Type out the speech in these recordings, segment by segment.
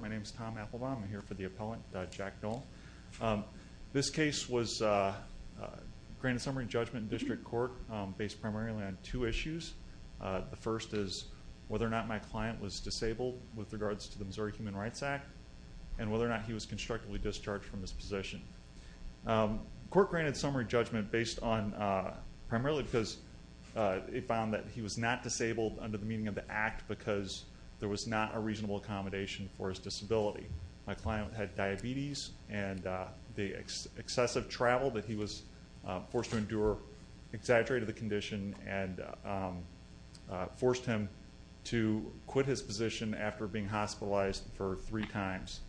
My name is Tom Applebaum. I'm here for the appellant, Jack Noel. This case was granted summary judgment in district court based primarily on two issues. The first is whether or not my client was disabled with regards to the Missouri Human Rights Act and whether or not he was constructively discharged from his position. The court granted summary judgment based on primarily because it found that he was not disabled under the meaning of the act because there was not a reasonable accommodation for his disability. My client had diabetes and the excessive travel that he was forced to endure exaggerated the condition and forced him to quit his position after being hospitalized for three times.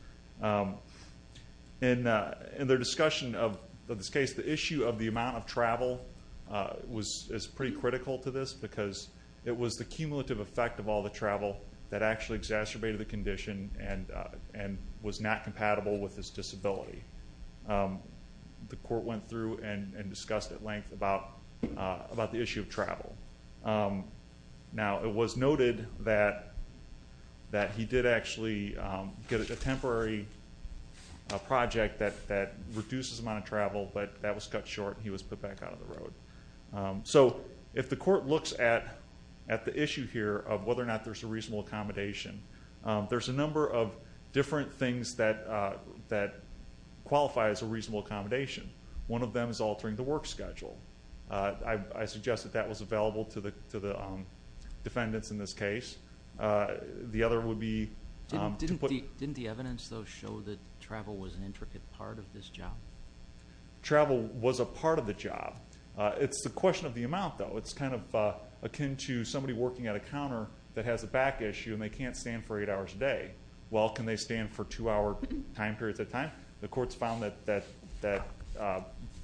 In their discussion of this case, the issue of the amount of travel is pretty critical to this because it was the cumulative effect of all the travel that actually exacerbated the condition and was not compatible with his disability. The court went through and discussed at length about the issue of travel. Now, it was noted that he did actually get a temporary project that reduces the amount of travel, but that was cut short and he was put back out of the road. If the court looks at the issue here of whether or not there's a reasonable accommodation, there's a number of different things that qualify as a reasonable accommodation. One of them is altering the work schedule. I suggest that that was available to the defendants in this case. The other would be to put... Didn't the evidence, though, show that travel was an intricate part of this job? Travel was a part of the job. It's a question of the amount, though. It's kind of akin to somebody working at a counter that has a back issue and they can't stand for eight hours a day. Well, can they stand for two-hour time periods at a time? The court's found that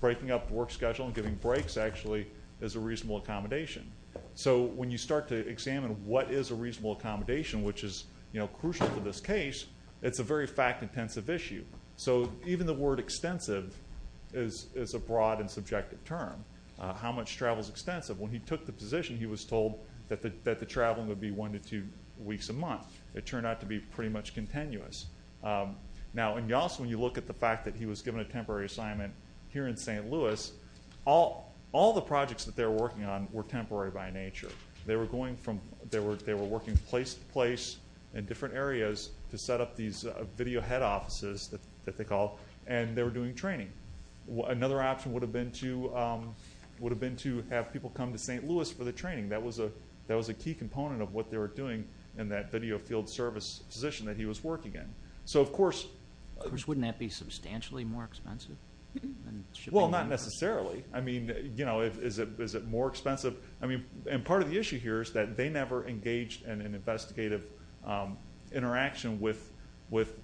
breaking up the work schedule and giving breaks, actually, is a reasonable accommodation. So when you start to examine what is a reasonable accommodation, which is crucial to this case, it's a very fact-intensive issue. So even the word extensive is a broad and subjective term. How much travel is extensive? When he took the position, he was told that the traveling would be one to two weeks a month. It turned out to be pretty much continuous. Now, when you look at the fact that he was given a temporary assignment here in St. Louis, all the projects that they were working on were temporary by nature. They were working place to place in different areas to set up these video head offices, that they call, and they were doing training. Another option would have been to have people come to St. Louis for the training. That was a key component of what they were doing in that video field service position that he was working in. Of course, wouldn't that be substantially more expensive? Well, not necessarily. I mean, is it more expensive? Part of the issue here is that they never engaged in an investigative interaction with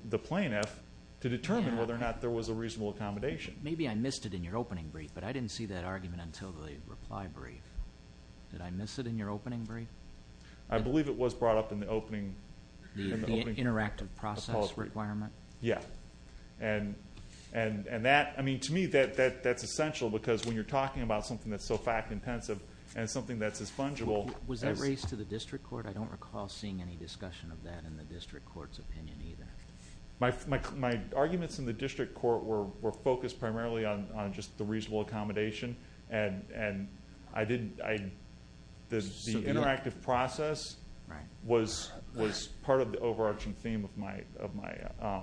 the plaintiff to determine whether or not there was a reasonable accommodation. Maybe I missed it in your opening brief, but I didn't see that argument until the reply brief. Did I miss it in your opening brief? I believe it was brought up in the opening. The interactive process requirement? Yeah. I mean, to me, that's essential because when you're talking about something that's so fact-intensive and something that's as fungible. Was that raised to the district court? I don't recall seeing any discussion of that in the district court's opinion either. My arguments in the district court were focused primarily on just the reasonable accommodation, and the interactive process was part of the overarching theme of my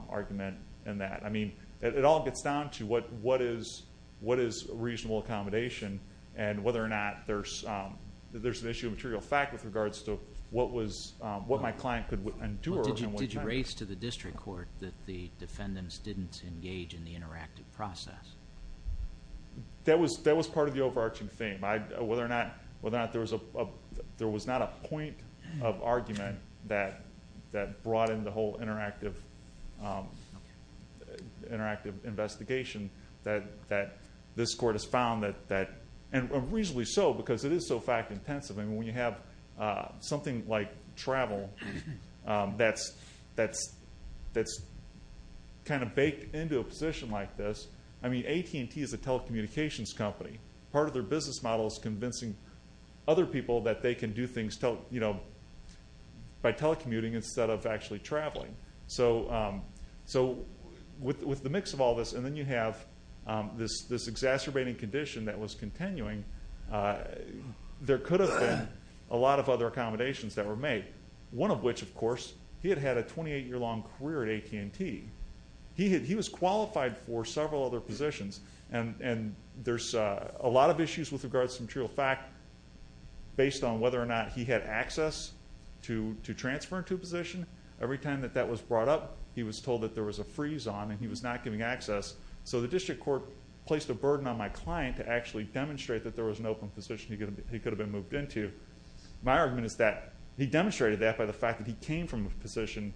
argument in that. I mean, it all gets down to what is reasonable accommodation and whether or not there's an issue of material fact with regards to what my client could endure. Did you raise to the district court that the defendants didn't engage in the interactive process? That was part of the overarching theme. Whether or not there was not a point of argument that brought in the whole interactive investigation that this court has found that, and reasonably so because it is so fact-intensive. I mean, when you have something like travel that's kind of baked into a position like this, I mean, AT&T is a telecommunications company. Part of their business model is convincing other people that they can do things by telecommuting instead of actually traveling. So with the mix of all this, and then you have this exacerbating condition that was continuing, there could have been a lot of other accommodations that were made, one of which, of course, he had had a 28-year-long career at AT&T. He was qualified for several other positions, and there's a lot of issues with regards to material fact based on whether or not he had access to transfer into a position. Every time that that was brought up, he was told that there was a freeze on and he was not getting access. So the district court placed a burden on my client to actually demonstrate that there was an open position he could have been moved into. My argument is that he demonstrated that by the fact that he came from a position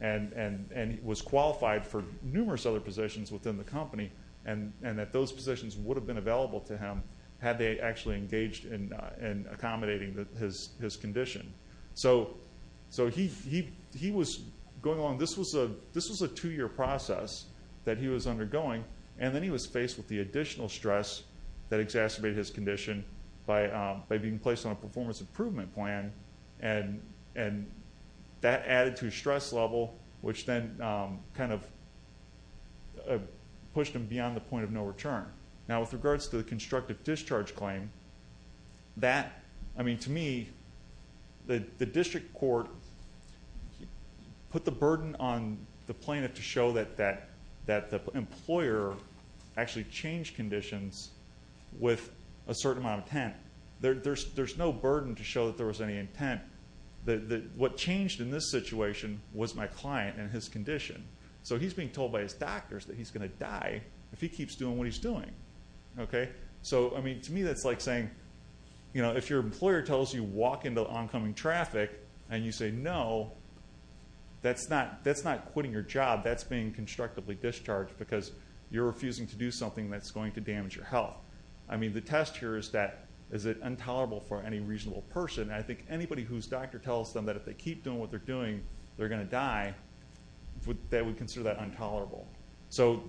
and was qualified for numerous other positions within the company, and that those positions would have been available to him had they actually engaged in accommodating his condition. So he was going along. This was a two-year process that he was undergoing, and then he was faced with the additional stress that exacerbated his condition by being placed on a performance improvement plan, and that added to his stress level, which then kind of pushed him beyond the point of no return. Now, with regards to the constructive discharge claim, that, I mean, to me, the district court put the burden on the plaintiff to show that the employer actually changed conditions with a certain amount of intent. There's no burden to show that there was any intent. What changed in this situation was my client and his condition. So he's being told by his doctors that he's going to die if he keeps doing what he's doing, okay? So, I mean, to me, that's like saying, you know, if your employer tells you walk into oncoming traffic and you say no, that's not quitting your job. That's being constructively discharged because you're refusing to do something that's going to damage your health. I mean, the test here is that is it intolerable for any reasonable person? I think anybody whose doctor tells them that if they keep doing what they're doing, they're going to die, they would consider that intolerable. So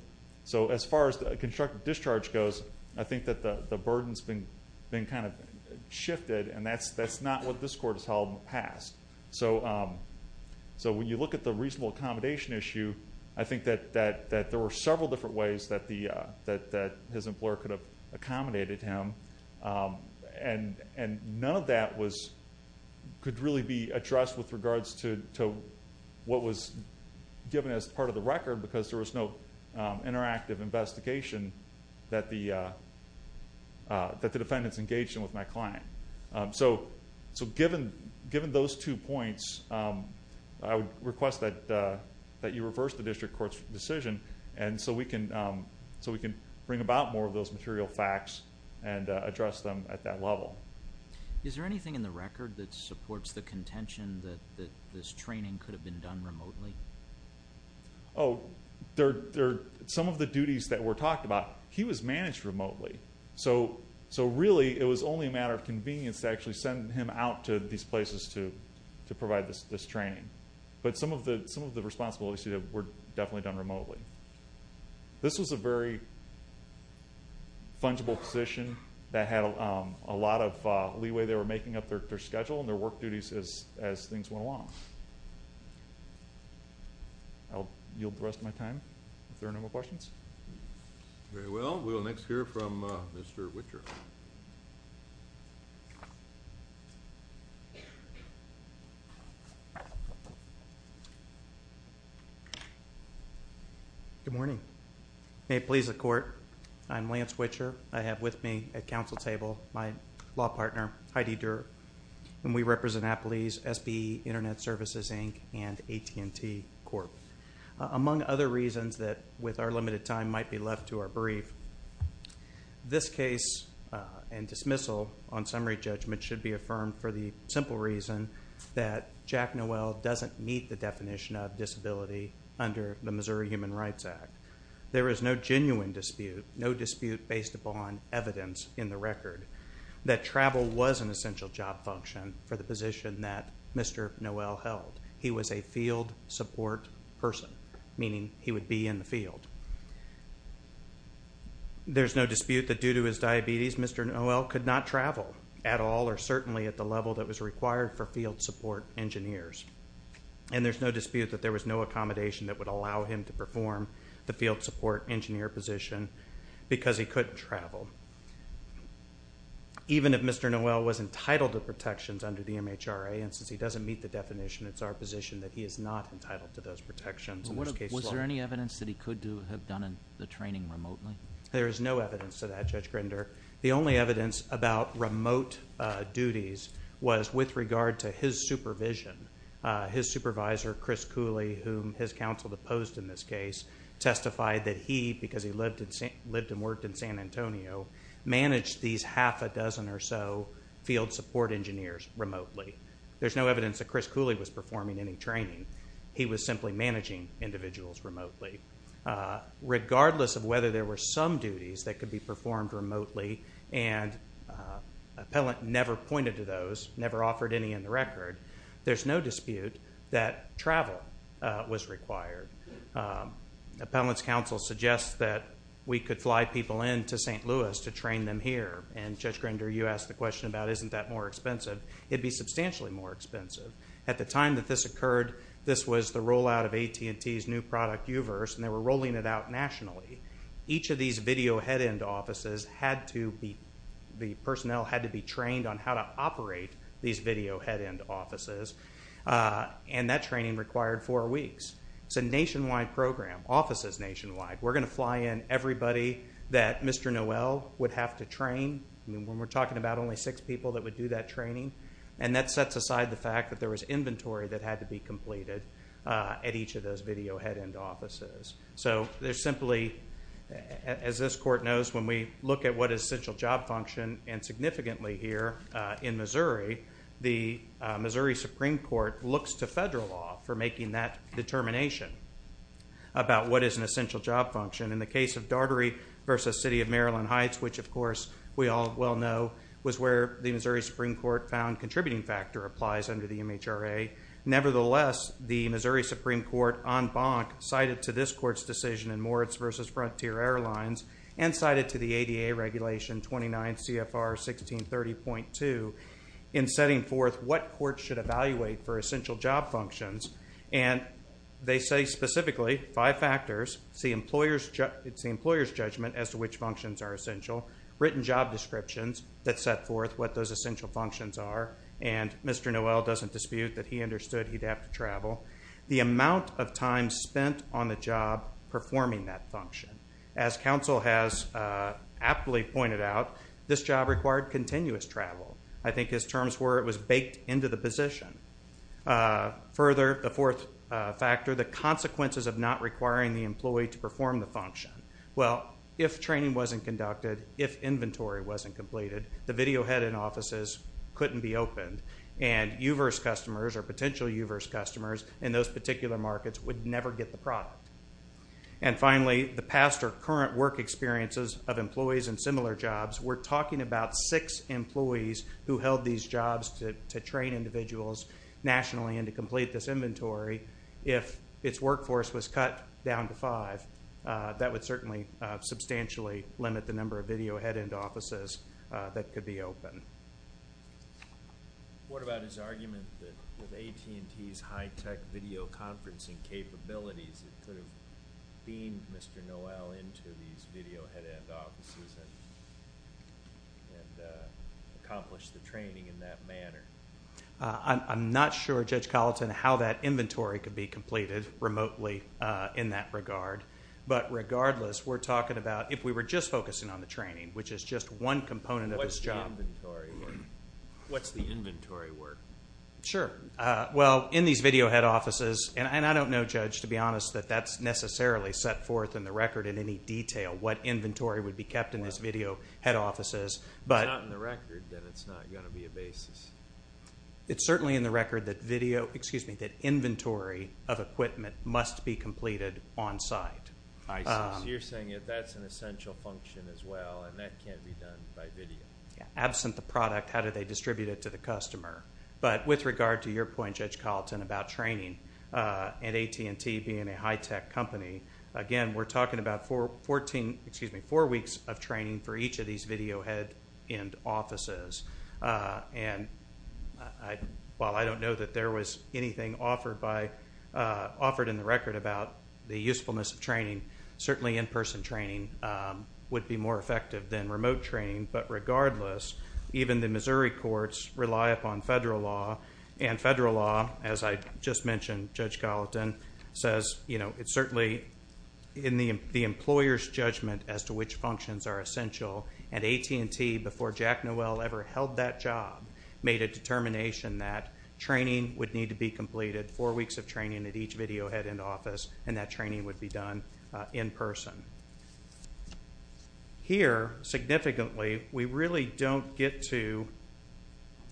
as far as constructive discharge goes, I think that the burden's been kind of shifted, and that's not what this court has held in the past. So when you look at the reasonable accommodation issue, I think that there were several different ways that his employer could have accommodated him, and none of that could really be addressed with regards to what was given as part of the record because there was no interactive investigation that the defendants engaged in with my client. So given those two points, I would request that you reverse the district court's decision so we can bring about more of those material facts and address them at that level. Is there anything in the record that supports the contention that this training could have been done remotely? Oh, some of the duties that were talked about, he was managed remotely. So really it was only a matter of convenience to actually send him out to these places to provide this training. But some of the responsibilities were definitely done remotely. This was a very fungible position that had a lot of leeway they were making up their schedule and their work duties as things went along. I'll yield the rest of my time if there are no more questions. Very well. We will next hear from Mr. Whitcher. Good morning. May it please the Court, I'm Lance Whitcher. I have with me at Council table my law partner, Heidi Durer, and we represent Applebee's, SBE, Internet Services, Inc., and AT&T Corp. Among other reasons that with our limited time might be left to our brief, this case and dismissal on summary judgment should be affirmed for the simple reason that Jack Noel doesn't meet the definition of disability under the Missouri Human Rights Act. There is no genuine dispute, no dispute based upon evidence in the record, that travel was an essential job function for the position that Mr. Noel held. He was a field support person, meaning he would be in the field. There's no dispute that due to his diabetes, Mr. Noel could not travel at all or certainly at the level that was required for field support engineers. And there's no dispute that there was no accommodation that would allow him to perform the field support engineer position because he couldn't travel. Even if Mr. Noel was entitled to protections under the MHRA, and since he doesn't meet the definition, it's our position that he is not entitled to those protections. Was there any evidence that he could have done the training remotely? There is no evidence to that, Judge Grinder. The only evidence about remote duties was with regard to his supervision. His supervisor, Chris Cooley, whom his counsel deposed in this case, testified that he, because he lived and worked in San Antonio, managed these half a dozen or so field support engineers remotely. There's no evidence that Chris Cooley was performing any training. He was simply managing individuals remotely. Regardless of whether there were some duties that could be performed remotely, and Appellant never pointed to those, never offered any in the record, there's no dispute that travel was required. Appellant's counsel suggests that we could fly people into St. Louis to train them here, and Judge Grinder, you asked the question about isn't that more expensive. It would be substantially more expensive. At the time that this occurred, this was the rollout of AT&T's new product, U-verse, and they were rolling it out nationally. Each of these video head-end offices had to be, the personnel had to be trained on how to operate these video head-end offices, and that training required four weeks. It's a nationwide program, offices nationwide. We're going to fly in everybody that Mr. Noel would have to train. We're talking about only six people that would do that training, and that sets aside the fact that there was inventory that had to be completed at each of those video head-end offices. So there's simply, as this court knows, when we look at what is essential job function, and significantly here in Missouri, the Missouri Supreme Court looks to federal law for making that determination about what is an essential job function. In the case of Daugherty v. City of Maryland Heights, which, of course, we all well know, was where the Missouri Supreme Court found contributing factor applies under the MHRA. Nevertheless, the Missouri Supreme Court, en banc, cited to this court's decision in Moritz v. Frontier Airlines and cited to the ADA Regulation 29 CFR 1630.2 in setting forth what courts should evaluate for essential job functions, and they say specifically five factors. It's the employer's judgment as to which functions are essential, written job descriptions that set forth what those essential functions are, and Mr. Noel doesn't dispute that he understood he'd have to travel. The amount of time spent on the job performing that function. As counsel has aptly pointed out, this job required continuous travel. I think his terms were it was baked into the position. Further, the fourth factor, the consequences of not requiring the employee to perform the function. Well, if training wasn't conducted, if inventory wasn't completed, the video head-in offices couldn't be opened, and U-verse customers or potential U-verse customers in those particular markets would never get the product. And finally, the past or current work experiences of employees in similar jobs. We're talking about six employees who held these jobs to train individuals nationally and to complete this inventory. If its workforce was cut down to five, that would certainly substantially limit the number of video head-in offices that could be open. What about his argument that with AT&T's high-tech video conferencing capabilities, it could have beamed Mr. Noel into these video head-in offices and accomplished the training in that manner? I'm not sure, Judge Colleton, how that inventory could be completed remotely in that regard. But regardless, we're talking about if we were just focusing on the training, which is just one component of this job. What's the inventory work? Sure. Well, in these video head-in offices, and I don't know, Judge, to be honest that that's necessarily set forth in the record in any detail what inventory would be kept in these video head-in offices. If it's not in the record, then it's not going to be a basis. It's certainly in the record that inventory of equipment must be completed on-site. So you're saying that's an essential function as well, and that can't be done by video. Absent the product, how do they distribute it to the customer? But with regard to your point, Judge Colleton, about training and AT&T being a high-tech company, again, we're talking about four weeks of training for each of these video head-in offices. And while I don't know that there was anything offered in the record about the usefulness of training, certainly in-person training would be more effective than remote training. But regardless, even the Missouri courts rely upon federal law, and federal law, as I just mentioned, Judge Colleton, says it's certainly in the employer's judgment as to which functions are essential. And AT&T, before Jack Noel ever held that job, made a determination that training would need to be completed, four weeks of training at each video head-in office, and that training would be done in person. Here, significantly, we really don't get to –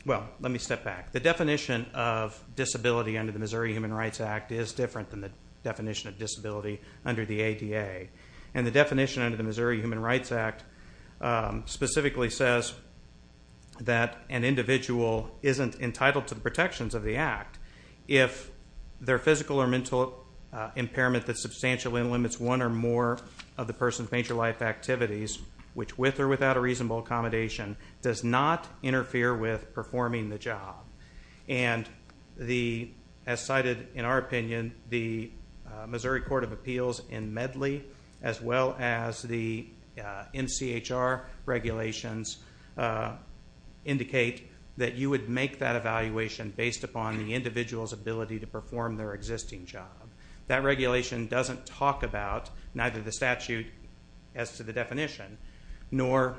well, let me step back. The definition of disability under the Missouri Human Rights Act is different than the definition of disability under the ADA. And the definition under the Missouri Human Rights Act specifically says that an individual isn't entitled to the protections of the Act if their physical or mental impairment that substantially limits one or more of the person's major life activities, which with or without a reasonable accommodation, does not interfere with performing the job. And as cited in our opinion, the Missouri Court of Appeals in Medley, as well as the NCHR regulations, indicate that you would make that evaluation based upon the individual's ability to perform their existing job. That regulation doesn't talk about neither the statute as to the definition, nor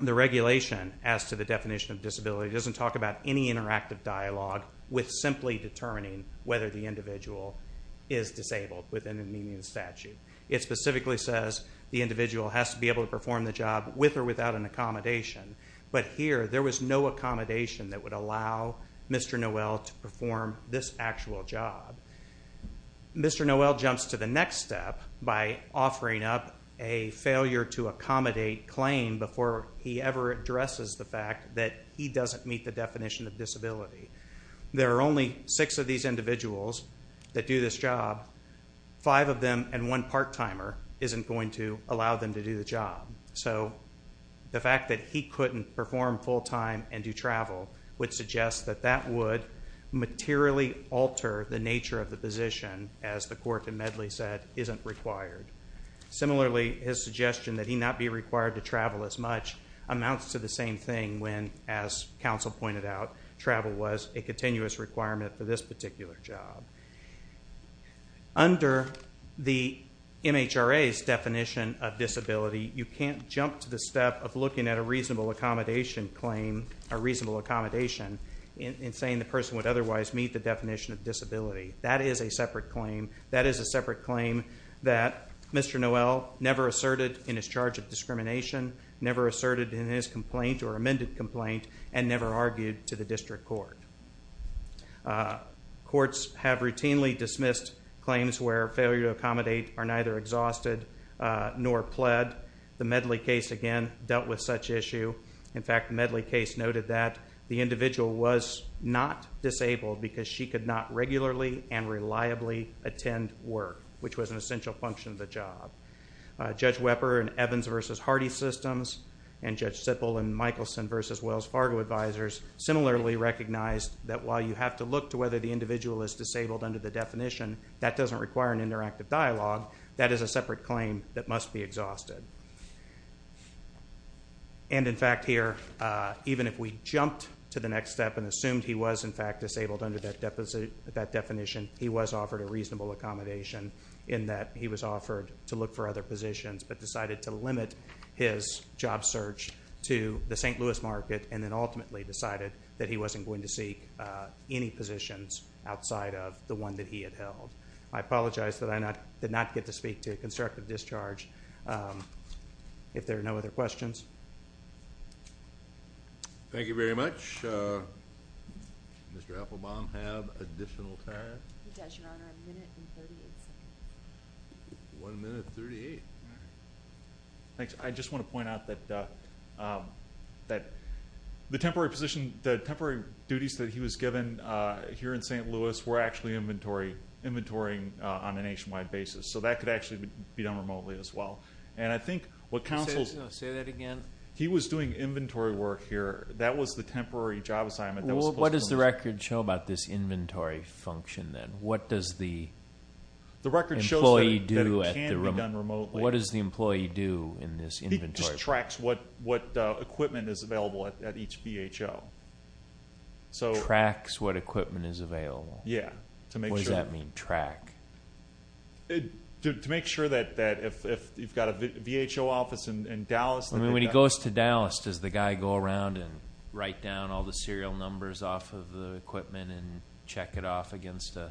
the regulation as to the definition of disability. It doesn't talk about any interactive dialogue with simply determining whether the individual is disabled within the meaning of the statute. It specifically says the individual has to be able to perform the job with or without an accommodation. But here, there was no accommodation that would allow Mr. Noel to perform this actual job. Mr. Noel jumps to the next step by offering up a failure-to-accommodate claim before he ever addresses the fact that he doesn't meet the definition of disability. There are only six of these individuals that do this job. Five of them and one part-timer isn't going to allow them to do the job. So the fact that he couldn't perform full-time and do travel would suggest that that would materially alter the nature of the position, as the court in Medley said, isn't required. Similarly, his suggestion that he not be required to travel as much amounts to the same thing when, as counsel pointed out, travel was a continuous requirement for this particular job. Under the MHRA's definition of disability, you can't jump to the step of looking at a reasonable accommodation claim, a reasonable accommodation, and saying the person would otherwise meet the definition of disability. That is a separate claim. That is a separate claim that Mr. Noel never asserted in his charge of discrimination, never asserted in his complaint or amended complaint, and never argued to the district court. Courts have routinely dismissed claims where failure-to-accommodate are neither exhausted nor pled. The Medley case, again, dealt with such issue. In fact, the Medley case noted that the individual was not disabled because she could not regularly and reliably attend work, which was an essential function of the job. Judge Weber in Evans v. Hardy Systems and Judge Sippel in Michelson v. Wells Fargo Advisors similarly recognized that while you have to look to whether the individual is disabled under the definition, that doesn't require an interactive dialogue. That is a separate claim that must be exhausted. And, in fact, here, even if we jumped to the next step and assumed he was, in fact, disabled under that definition, he was offered a reasonable accommodation in that he was offered to look for other positions but decided to limit his job search to the St. Louis market and then ultimately decided that he wasn't going to seek any positions outside of the one that he had held. I apologize that I did not get to speak to constructive discharge. If there are no other questions. Thank you very much. Does Mr. Applebaum have additional time? He does, Your Honor. A minute and 38 seconds. One minute and 38. Thanks. I just want to point out that the temporary duties that he was given here in St. Louis were actually inventorying on a nationwide basis. So that could actually be done remotely as well. And I think what counsels. Say that again. He was doing inventory work here. That was the temporary job assignment. What does the record show about this inventory function then? What does the employee do? The record shows that it can be done remotely. What does the employee do in this inventory? He just tracks what equipment is available at each VHO. Tracks what equipment is available? Yeah. What does that mean, track? To make sure that if you've got a VHO office in Dallas. I mean, when he goes to Dallas, does the guy go around and write down all the serial numbers off of the equipment and check it off against a log?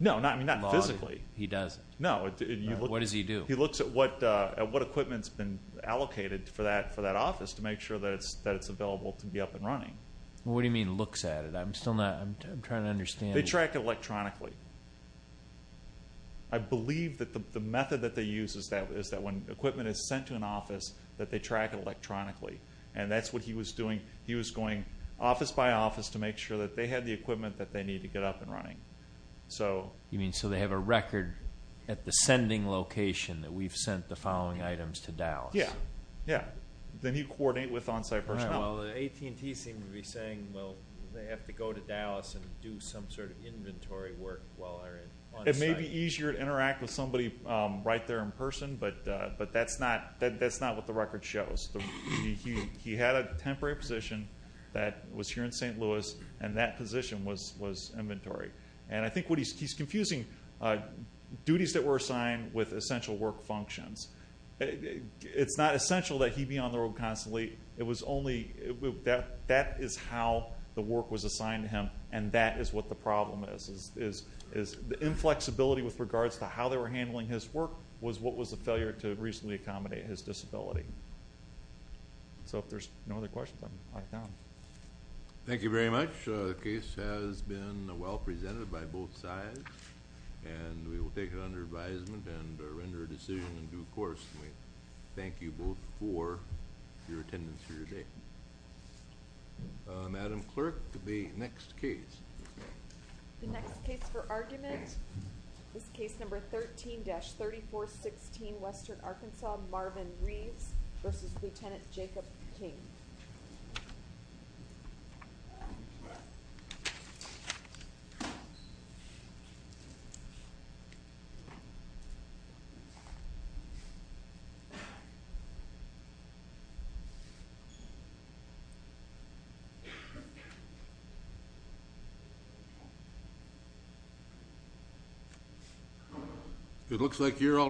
No, not physically. He doesn't? No. What does he do? He looks at what equipment has been allocated for that office to make sure that it's available to be up and running. What do you mean looks at it? I'm trying to understand. They track it electronically. I believe that the method that they use is that when equipment is sent to an office, that they track it electronically. And that's what he was doing. He was going office by office to make sure that they had the equipment that they needed to get up and running. You mean so they have a record at the sending location that we've sent the following items to Dallas? Yeah. Then you coordinate with on-site personnel. AT&T seemed to be saying, well, they have to go to Dallas and do some sort of inventory work while they're on-site. It may be easier to interact with somebody right there in person, but that's not what the record shows. He had a temporary position that was here in St. Louis, and that position was inventory. And I think what he's confusing duties that were assigned with essential work functions. It's not essential that he be on the road constantly. That is how the work was assigned to him, and that is what the problem is. The inflexibility with regards to how they were handling his work was what was the failure to reasonably accommodate his disability. So if there's no other questions, I'll knock it down. Thank you very much. The case has been well presented by both sides, and we will take it under advisement and render a decision in due course. Thank you both for your attendance here today. Madam Clerk, the next case. The next case for argument is case number 13-3416, Western Arkansas, Marvin Reeves v. Lieutenant Jacob King. It looks like you're all ready.